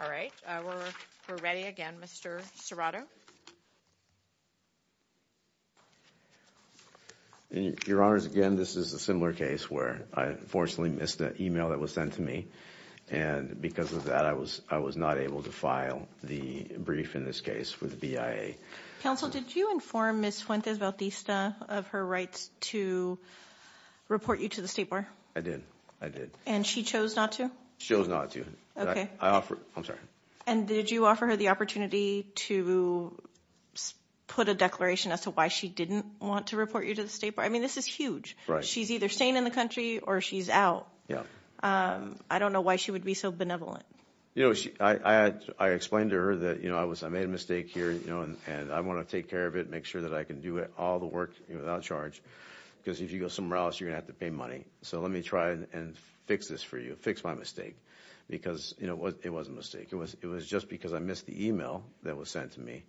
All right, we're ready again, Mr. Serrato. Your Honors, again, this is a similar case where I unfortunately missed an email that was sent to me, and because of that I was not able to file the brief in this case with the BIA. Counsel, did you inform Ms. Fuentes-Bautista of her rights to report you to the State Bar? I did. I did. And she chose not to? She chose not to. Okay. I offered. I'm sorry. And did you offer her the opportunity to put a declaration as to why she didn't want to report you to the State Bar? I mean, this is huge. She's either staying in the country, or she's out. I don't know why she would be so benevolent. I explained to her that I made a mistake here, and I want to take care of it, make sure that I can do all the work without charge, because if you go somewhere else, you're going to have to pay money. So let me try and fix this for you, fix my mistake, because it was a mistake. It was just because I missed the email that was sent to me.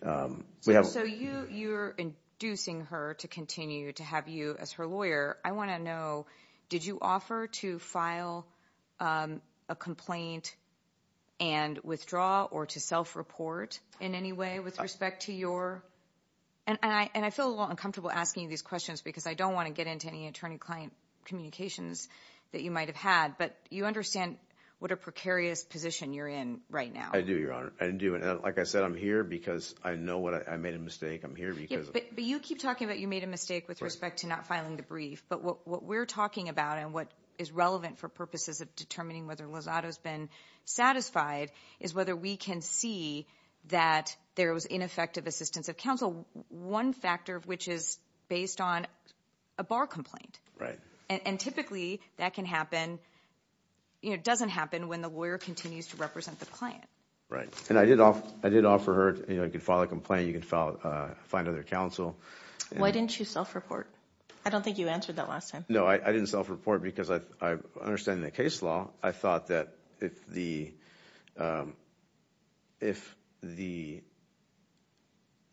So you're inducing her to continue to have you as her lawyer. I want to know, did you offer to file a complaint and withdraw, or to self-report in any way with respect to your... And I feel a little uncomfortable asking you these questions, because I don't want to get into any attorney-client communications that you might have had, but you understand what a precarious position you're in right now. I do, Your Honor. I do. And like I said, I'm here because I know I made a mistake. I'm here because... But you keep talking about you made a mistake with respect to not filing the brief. But what we're talking about, and what is relevant for purposes of determining whether Lozado's been satisfied, is whether we can see that there was ineffective assistance of counsel, one factor of which is based on a bar complaint. And typically, that doesn't happen when the lawyer continues to represent the client. Right. And I did offer her, you can file a complaint, you can find other counsel. Why didn't you self-report? I don't think you answered that last time. No, I didn't self-report, because I understand the case law. I thought that if the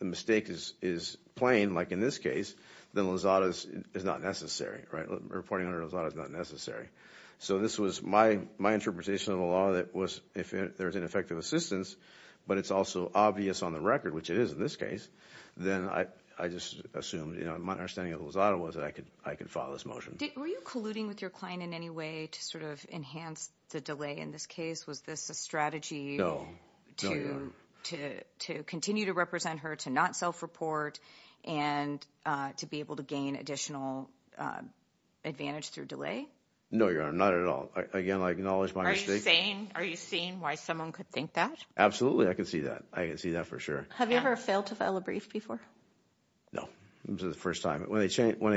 mistake is plain, like in this case, then Lozado's is not necessary. Reporting under Lozado's is not necessary. So this was my interpretation of the law, that if there's ineffective assistance, but it's also obvious on the record, which it is in this case, then I just assumed, my understanding of Lozado was that I could file this motion. Were you colluding with your client in any way to sort of enhance the delay in this case? Was this a strategy to continue to represent her, to not self-report, and to be able to gain additional advantage through delay? No, Your Honor, not at all. Again, I acknowledge my mistake. Are you seeing why someone could think that? Absolutely, I can see that. I can see that for sure. Have you ever failed to file a brief before? No, this is the first time. When they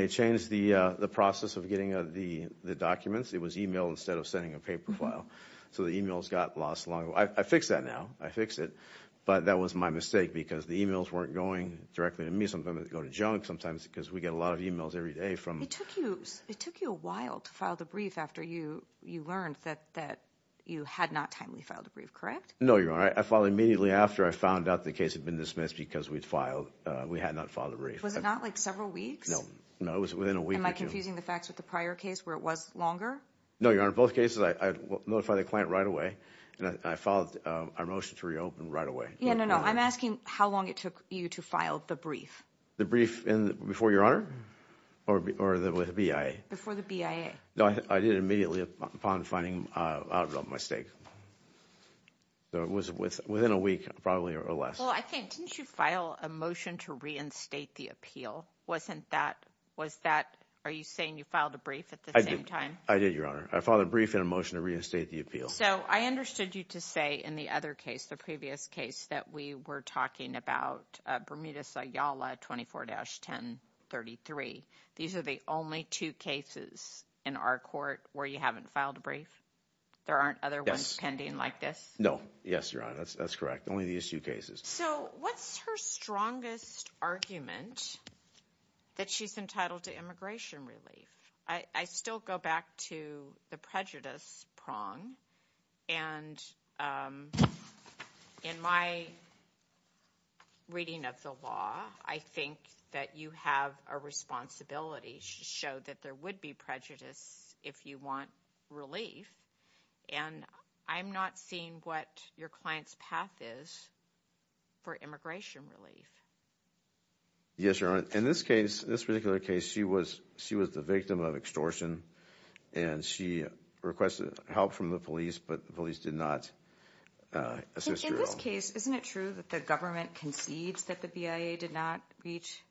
changed the process of getting the documents, it was email instead of sending a paper file. So the emails got lost. I fix that now. I fix it. But that was my mistake, because the emails weren't going directly to me. Sometimes they'd go to junk, sometimes, because we get a lot of emails every day from... It took you a while to file the brief after you learned that you had not timely filed a brief, correct? No, Your Honor. I filed immediately after I found out the case had been dismissed, because we had not filed a brief. Was it not like several weeks? No, it was within a week or two. Am I confusing the facts with the prior case, where it was longer? No, Your Honor. In both cases, I notified the client right away, and I filed a motion to reopen right away. Yeah, no, no. I'm asking how long it took you to file the brief. The brief before, Your Honor? Or the BIA? Before the BIA. No, I did it immediately upon finding out about my mistake. So it was within a week, probably, or less. Well, I think... Didn't you file a motion to reinstate the appeal? Was that... Are you saying you filed a brief at the same time? I did, Your Honor. I filed a brief and a motion to reinstate the appeal. So I understood you to say, in the other case, the previous case, that we were talking about Bermuda-Sayala 24-1033. These are the only two cases in our court where you haven't filed a brief? There aren't other ones pending like this? No. Yes, Your Honor. That's correct. Only the issue cases. So what's her strongest argument that she's entitled to immigration relief? I still go back to the prejudice prong, and in my reading of the law, I think that you have a responsibility to show that there would be prejudice if you want relief, and I'm not seeing what your client's path is for immigration relief. Yes, Your Honor. In this case, this particular case, she was the victim of extortion, and she requested help from the police, but the police did not assist her at all. In this case, isn't it true that the government concedes that the BIA did not reach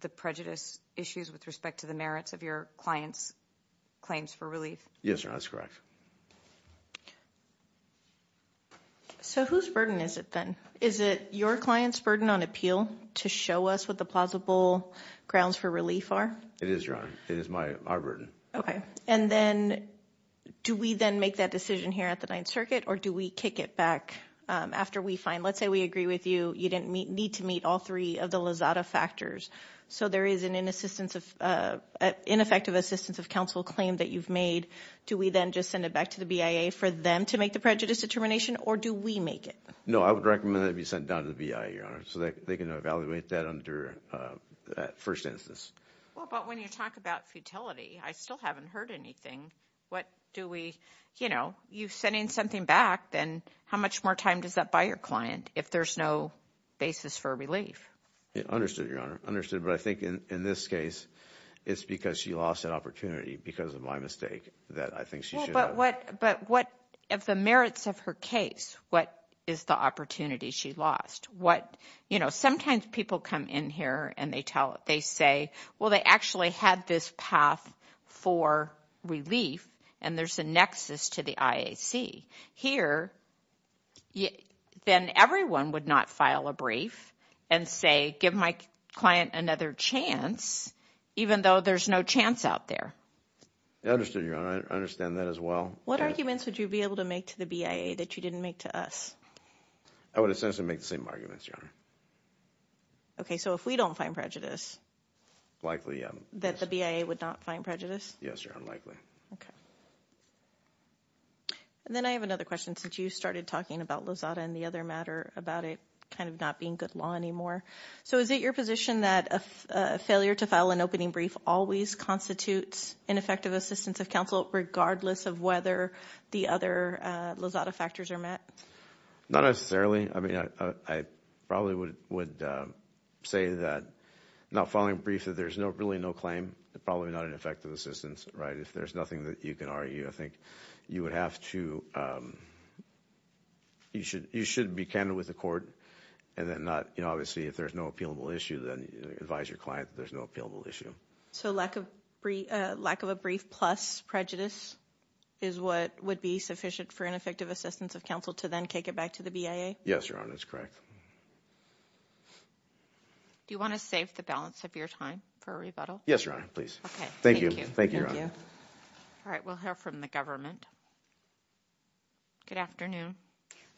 the prejudice issues with respect to the merits of your client's claims for relief? Yes, Your Honor. That's correct. So whose burden is it then? Is it your client's burden on appeal to show us what the plausible grounds for relief are? It is, Your Honor. It is my burden. Okay. And then, do we then make that decision here at the Ninth Circuit, or do we kick it back after we find, let's say we agree with you, you didn't need to meet all three of the Lazada factors, so there is an ineffective assistance of counsel claim that you've made. Do we then just send it back to the BIA for them to make the prejudice determination, or do we make it? No, I would recommend that it be sent down to the BIA, Your Honor, so that they can evaluate that under that first instance. Well, but when you talk about futility, I still haven't heard anything. What do we, you know, you sending something back, then how much more time does that buy your client if there's no basis for relief? Understood, Your Honor, understood, but I think in this case, it's because she lost that opportunity because of my mistake that I think she should have. But what, if the merits of her case, what is the opportunity she lost? What, you know, sometimes people come in here and they tell, they say, well, they actually had this path for relief, and there's a nexus to the IAC. Here, then everyone would not file a brief and say, give my client another chance, even though there's no chance out there. Understood, Your Honor, I understand that as well. What arguments would you be able to make to the BIA that you didn't make to us? I would essentially make the same arguments, Your Honor. Okay, so if we don't find prejudice, likely that the BIA would not find prejudice? Yes, Your Honor, likely. Okay. Then I have another question, since you started talking about Lozada and the other matter about it kind of not being good law anymore. So is it your position that a failure to file an opening brief always constitutes ineffective assistance of counsel, regardless of whether the other Lozada factors are met? Not necessarily. I mean, I probably would say that not filing a brief, that there's really no claim, probably not an effective assistance, right? If there's nothing that you can argue, I think you would have to, you should be candid with the court and then not, you know, obviously if there's no appealable issue, then advise your client that there's no appealable issue. So lack of a brief plus prejudice is what would be sufficient for an effective assistance of counsel to then take it back to the BIA? Yes, Your Honor, that's correct. Do you want to save the balance of your time for a rebuttal? Yes, Your Honor, please. Okay. Thank you. Thank you, Your Honor. All right, we'll hear from the government. Good afternoon.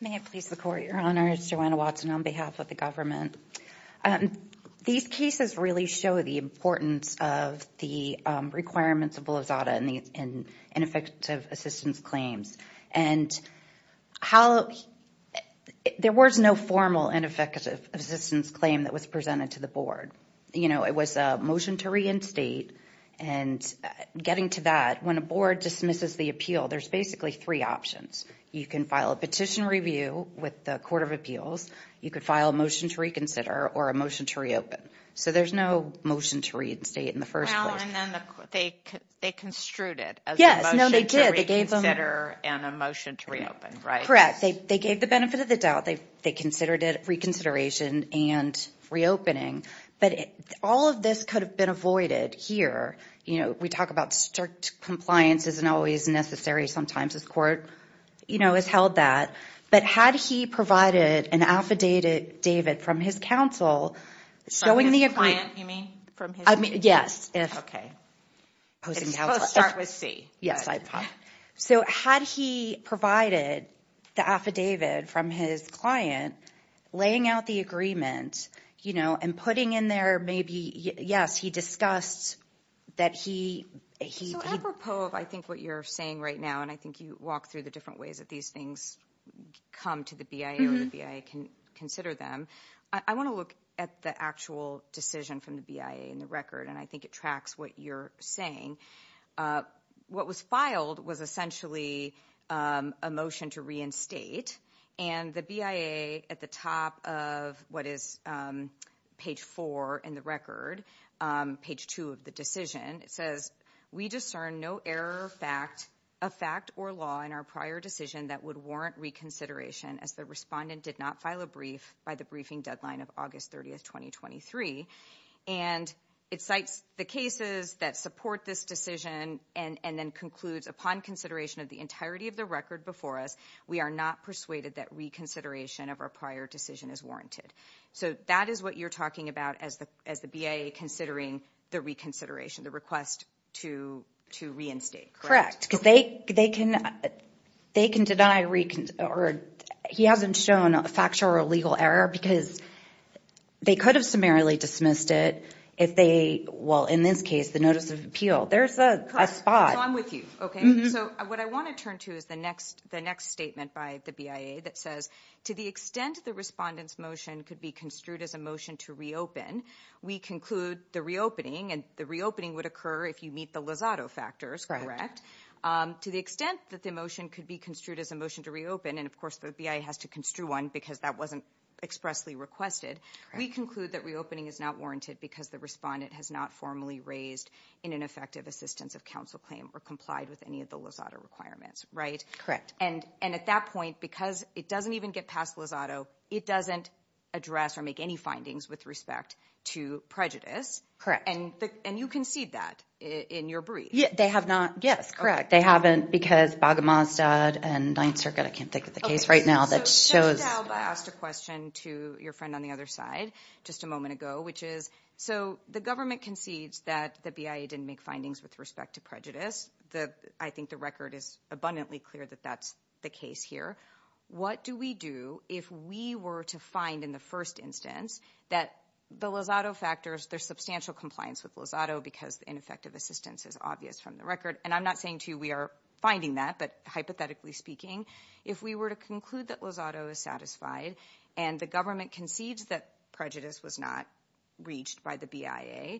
May it please the Court, Your Honor. It's Joanna Watson on behalf of the government. These cases really show the importance of the requirements of Lozada in ineffective assistance claims and how, there was no formal ineffective assistance claim that was presented to the board. You know, it was a motion to reinstate and getting to that, when a board dismisses the appeal, there's basically three options. You can file a petition review with the Court of Appeals. You could file a motion to reconsider or a motion to reopen. So there's no motion to reinstate in the first place. Well, and then they construed it as a motion to reconsider and a motion to reopen, right? Correct. They gave the benefit of the doubt. They considered it reconsideration and reopening, but all of this could have been avoided here. You know, we talk about strict compliance isn't always necessary. Sometimes this court, you know, has held that, but had he provided an affidavit from his counsel, showing the agreement. From his client, you mean? I mean, yes. Okay. It's supposed to start with C. Yes, I apologize. So had he provided the affidavit from his client, laying out the agreement, you know, and putting in there maybe, yes, he discussed that he... So apropos of I think what you're saying right now, and I think you walked through the different ways that these things come to the BIA or the BIA can consider them. I want to look at the actual decision from the BIA in the record, and I think it tracks what you're saying. What was filed was essentially a motion to reinstate, and the BIA at the top of what is page four in the record, page two of the decision, it says, we discern no error, fact, a fact or law in our prior decision that would warrant reconsideration as the respondent did not file a brief by the briefing deadline of August 30th, 2023. And it cites the cases that support this decision, and then concludes upon consideration of the entirety of the record before us, we are not persuaded that reconsideration of our prior decision is warranted. So that is what you're talking about as the BIA considering the reconsideration, the request to reinstate, correct? Because they can deny... He hasn't shown a factual or legal error because they could have summarily dismissed it if they... Well, in this case, the notice of appeal. There's a spot. So I'm with you, okay? So what I want to turn to is the next statement by the BIA that says, to the extent the respondent's motion could be construed as a motion to reopen, we conclude the reopening, and the reopening would occur if you meet the Lozado factors, correct? To the extent that the motion could be construed as a motion to reopen, and of course the BIA has to construe one because that wasn't expressly requested, we conclude that reopening is not warranted because the respondent has not formally raised in an effective assistance of counsel claim or complied with any of the Lozado requirements, right? And at that point, because it doesn't even get past Lozado, it doesn't address or make any findings with respect to prejudice. Correct. And you concede that in your brief. They have not. Yes, correct. They haven't because Baghamas and Ninth Circuit, I can't think of the case right now that shows... So, Jennifer Daube asked a question to your friend on the other side just a moment ago, which is, so the government concedes that the BIA didn't make findings with respect to prejudice, I think the record is abundantly clear that that's the case here. What do we do if we were to find in the first instance that the Lozado factors, there's substantial compliance with Lozado because ineffective assistance is obvious from the record, and I'm not saying to you we are finding that, but hypothetically speaking, if we were to conclude that Lozado is satisfied and the government concedes that prejudice was not reached by the BIA,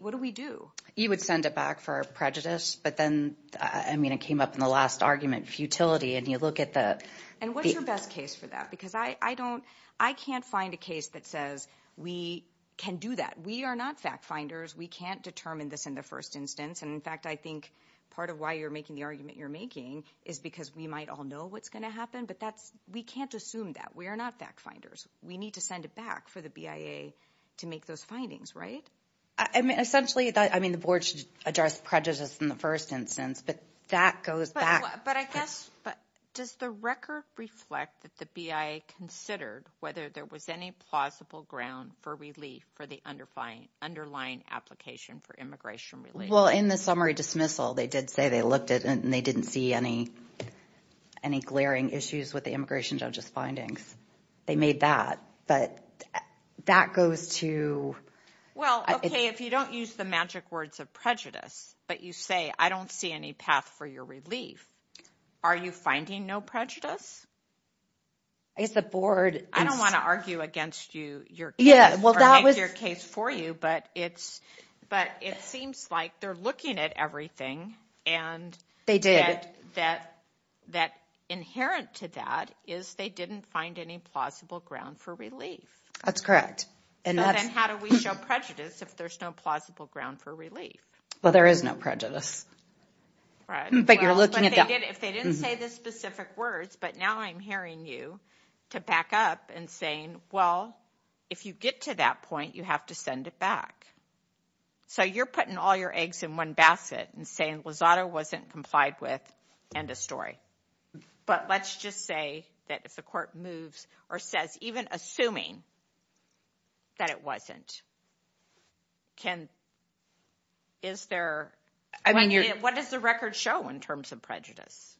what do we do? You would send it back for prejudice, but then, I mean, it came up in the last argument, futility, and you look at the... And what's your best case for that? Because I can't find a case that says we can do that. We are not fact finders. We can't determine this in the first instance, and in fact, I think part of why you're making the argument you're making is because we might all know what's going to happen, but we can't assume that. We are not fact finders. We need to send it back for the BIA to make those findings, right? I mean, essentially, I mean, the board should address prejudice in the first instance, but that goes back... But I guess, does the record reflect that the BIA considered whether there was any plausible ground for relief for the underlying application for immigration relief? Well, in the summary dismissal, they did say they looked at it and they didn't see any glaring issues with the immigration judge's findings. They made that, but that goes to... Well, okay, if you don't use the magic words of prejudice, but you say, I don't see any path for your relief, are you finding no prejudice? I guess the board... I don't want to argue against your case or make your case for you, but it seems like they're looking at everything and that inherent to that is they didn't find any plausible ground for relief. That's correct. And that's... Then how do we show prejudice if there's no plausible ground for relief? Well, there is no prejudice, but you're looking at that... If they didn't say the specific words, but now I'm hearing you to back up and saying, well, if you get to that point, you have to send it back. So you're putting all your eggs in one basket and saying Lozada wasn't complied with, end of story. But let's just say that if the court moves or says, even assuming that it wasn't, can... Is there... I mean, you're... What does the record show in terms of prejudice?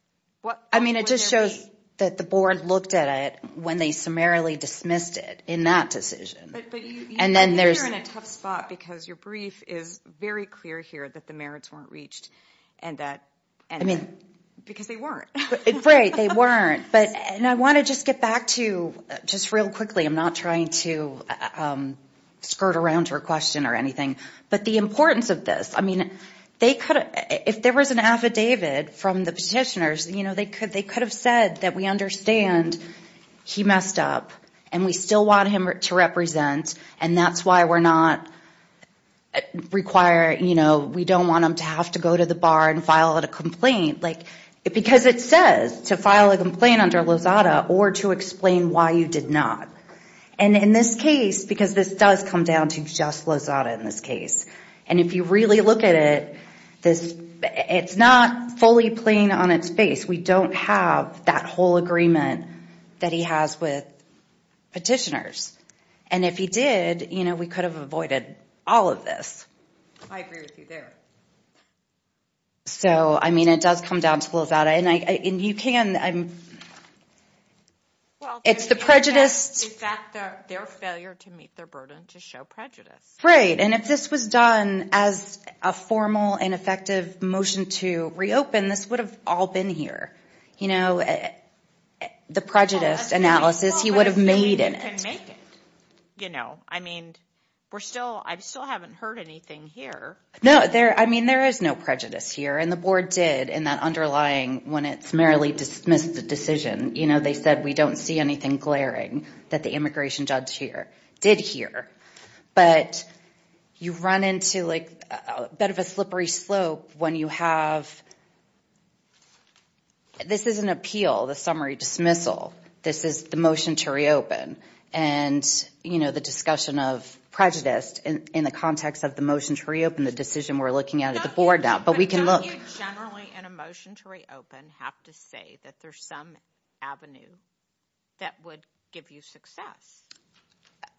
I mean, it just shows that the board looked at it when they summarily dismissed it in that decision. But I think you're in a tough spot because your brief is very clear here that the merits weren't reached and that... Because they weren't. Right. They weren't. And I want to just get back to, just real quickly, I'm not trying to skirt around to a question or anything, but the importance of this, I mean, if there was an affidavit from the petitioners, they could have said that we understand he messed up and we still want him to represent and that's why we're not requiring... We don't want him to have to go to the bar and file a complaint. Because it says to file a complaint under Lozada or to explain why you did not. And in this case, because this does come down to just Lozada in this case, and if you really look at it, it's not fully plain on its face. We don't have that whole agreement that he has with petitioners. And if he did, we could have avoided all of this. I agree with you there. So I mean, it does come down to Lozada and you can... It's the prejudice... In fact, their failure to meet their burden to show prejudice. Right. Right. And if this was done as a formal and effective motion to reopen, this would have all been here. You know, the prejudice analysis he would have made in it. You know, I mean, we're still... I still haven't heard anything here. No, there... I mean, there is no prejudice here and the board did in that underlying, when it's merely dismissed the decision, you know, they said, we don't see anything glaring that the immigration judge here did here. But you run into like a bit of a slippery slope when you have... This is an appeal, the summary dismissal. This is the motion to reopen. And you know, the discussion of prejudice in the context of the motion to reopen, the decision we're looking at at the board now. But we can look... But don't you generally, in a motion to reopen, have to say that there's some avenue that would give you success?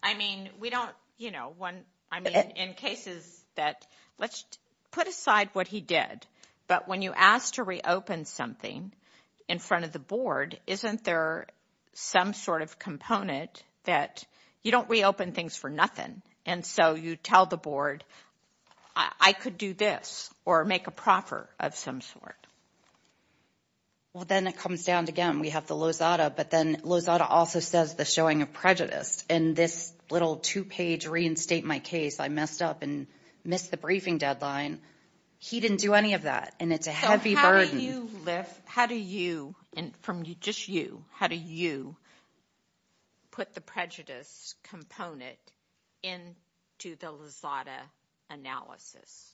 I mean, we don't, you know, when... I mean, in cases that... Let's put aside what he did. But when you ask to reopen something in front of the board, isn't there some sort of component that you don't reopen things for nothing. And so you tell the board, I could do this or make a proffer of some sort. Well, then it comes down to, again, we have the Lozada, but then Lozada also says the showing of prejudice. And this little two-page reinstate my case, I messed up and missed the briefing deadline. He didn't do any of that. And it's a heavy burden. So how do you lift... How do you... And from just you, how do you put the prejudice component into the Lozada analysis?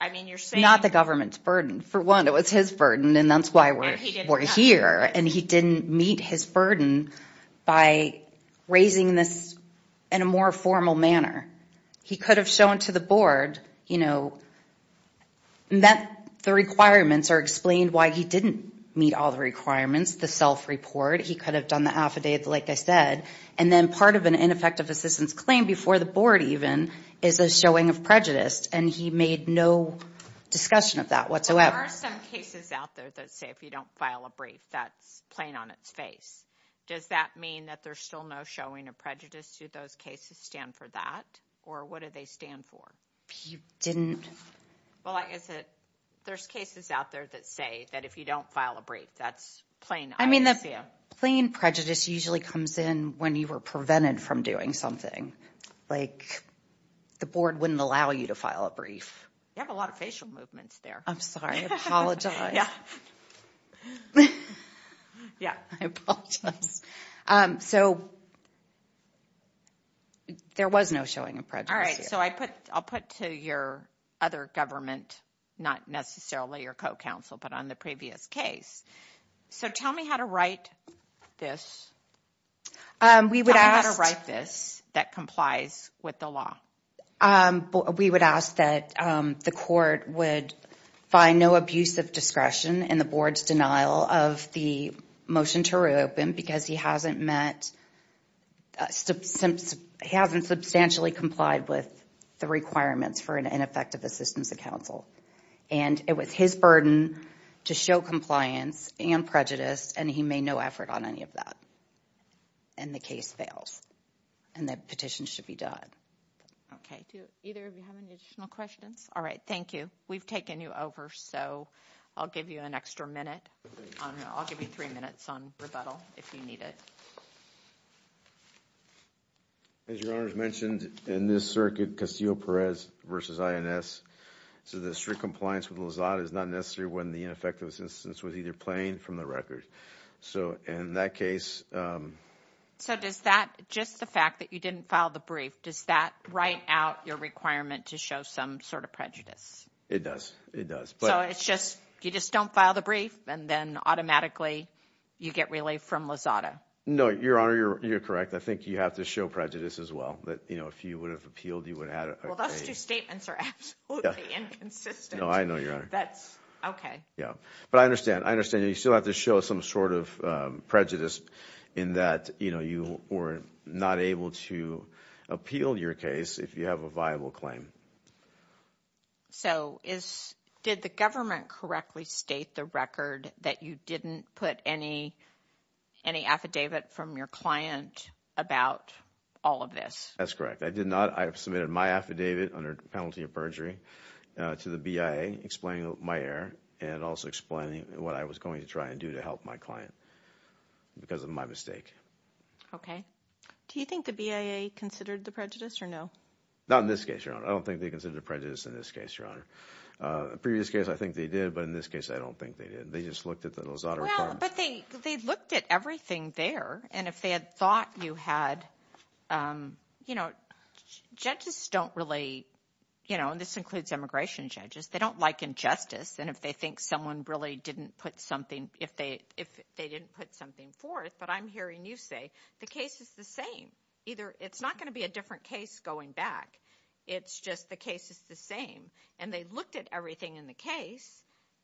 I mean, you're saying... Not the government's burden. For one, it was his burden, and that's why we're here. And he didn't meet his burden by raising this in a more formal manner. He could have shown to the board that the requirements are explained why he didn't meet all the requirements, the self-report. He could have done the affidavit, like I said. And then part of an ineffective assistance claim before the board, even, is a showing of prejudice. And he made no discussion of that whatsoever. There are some cases out there that say, if you don't file a brief, that's plain on its face. Does that mean that there's still no showing of prejudice? Do those cases stand for that? Or what do they stand for? He didn't... Well, I guess that there's cases out there that say that if you don't file a brief, that's plain ISEA. I mean, the plain prejudice usually comes in when you were prevented from doing something. Like the board wouldn't allow you to file a brief. You have a lot of facial movements there. I'm sorry. Yeah. I apologize. So there was no showing of prejudice here. So I'll put to your other government, not necessarily your co-counsel, but on the previous case. So tell me how to write this. We would ask... How to write this that complies with the law. We would ask that the court would find no abuse of discretion in the board's denial of the motion to reopen because he hasn't met... He hasn't substantially complied with the requirements for an ineffective assistance of counsel. And it was his burden to show compliance and prejudice, and he made no effort on any of that. And the case fails. And that petition should be done. Okay. Do either of you have any additional questions? All right. Thank you. We've taken you over, so I'll give you an extra minute. I'll give you three minutes on rebuttal if you need it. As your Honor has mentioned, in this circuit, Castillo-Perez versus INS, so the strict compliance with Lazada is not necessary when the ineffective assistance was either plain or from the record. So in that case... So does that, just the fact that you didn't file the brief, does that write out your requirement to show some sort of prejudice? It does. It does. So it's just, you just don't file the brief, and then automatically you get relief from Lazada? No. Your Honor, you're correct. I think you have to show prejudice as well, that if you would have appealed, you would have... Well, those two statements are absolutely inconsistent. No, I know, Your Honor. That's... Okay. Yeah. But I understand. I understand. You still have to show some sort of prejudice in that, you know, you were not able to appeal your case if you have a viable claim. So did the government correctly state the record that you didn't put any affidavit from your client about all of this? That's correct. I did not. I submitted my affidavit under penalty of perjury to the BIA, explaining my error and also explaining what I was going to try and do to help my client because of my mistake. Okay. Do you think the BIA considered the prejudice or no? Not in this case, Your Honor. I don't think they considered the prejudice in this case, Your Honor. Previous case, I think they did, but in this case, I don't think they did. They just looked at the Lazada report. Well, but they looked at everything there, and if they had thought you had, you know, judges don't really, you know, and this includes immigration judges, they don't liken justice. And if they think someone really didn't put something, if they didn't put something forth, but I'm hearing you say the case is the same. Either it's not going to be a different case going back. It's just the case is the same. And they looked at everything in the case,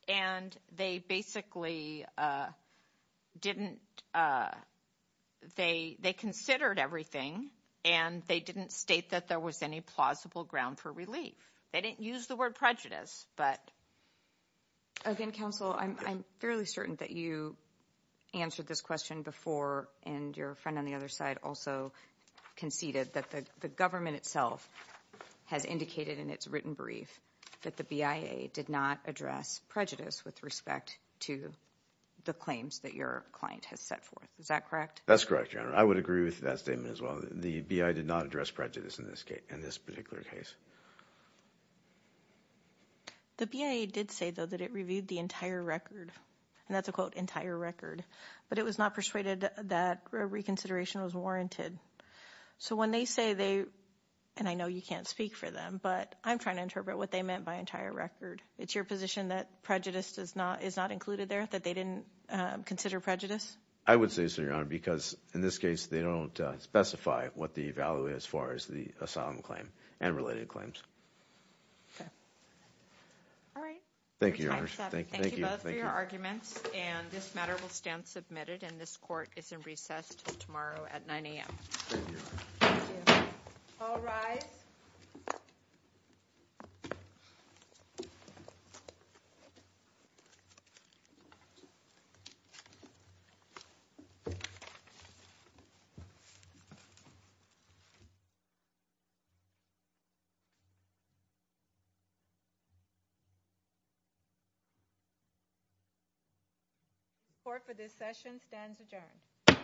and they basically didn't, they considered everything and they didn't state that there was any plausible ground for relief. They didn't use the word prejudice, but. Again, counsel, I'm fairly certain that you answered this question before, and your friend on the other side also conceded that the government itself has indicated in its written brief that the BIA did not address prejudice with respect to the claims that your client has set forth. Is that correct? That's correct, Your Honor. I would agree with that statement as well. The BIA did not address prejudice in this case, in this particular case. The BIA did say though that it reviewed the entire record, and that's a quote entire record, but it was not persuaded that reconsideration was warranted. So when they say they, and I know you can't speak for them, but I'm trying to interpret what they meant by entire record. It's your position that prejudice does not, is not included there, that they didn't consider prejudice? I would say so, Your Honor, because in this case they don't specify what the value is as far as the asylum claim and related claims. Okay. All right. Your time is up. Thank you both for your arguments, and this matter will stand submitted, and this court is in recess until tomorrow at 9 a.m. Thank you, Your Honor. Thank you. All rise. The court for this session stands adjourned.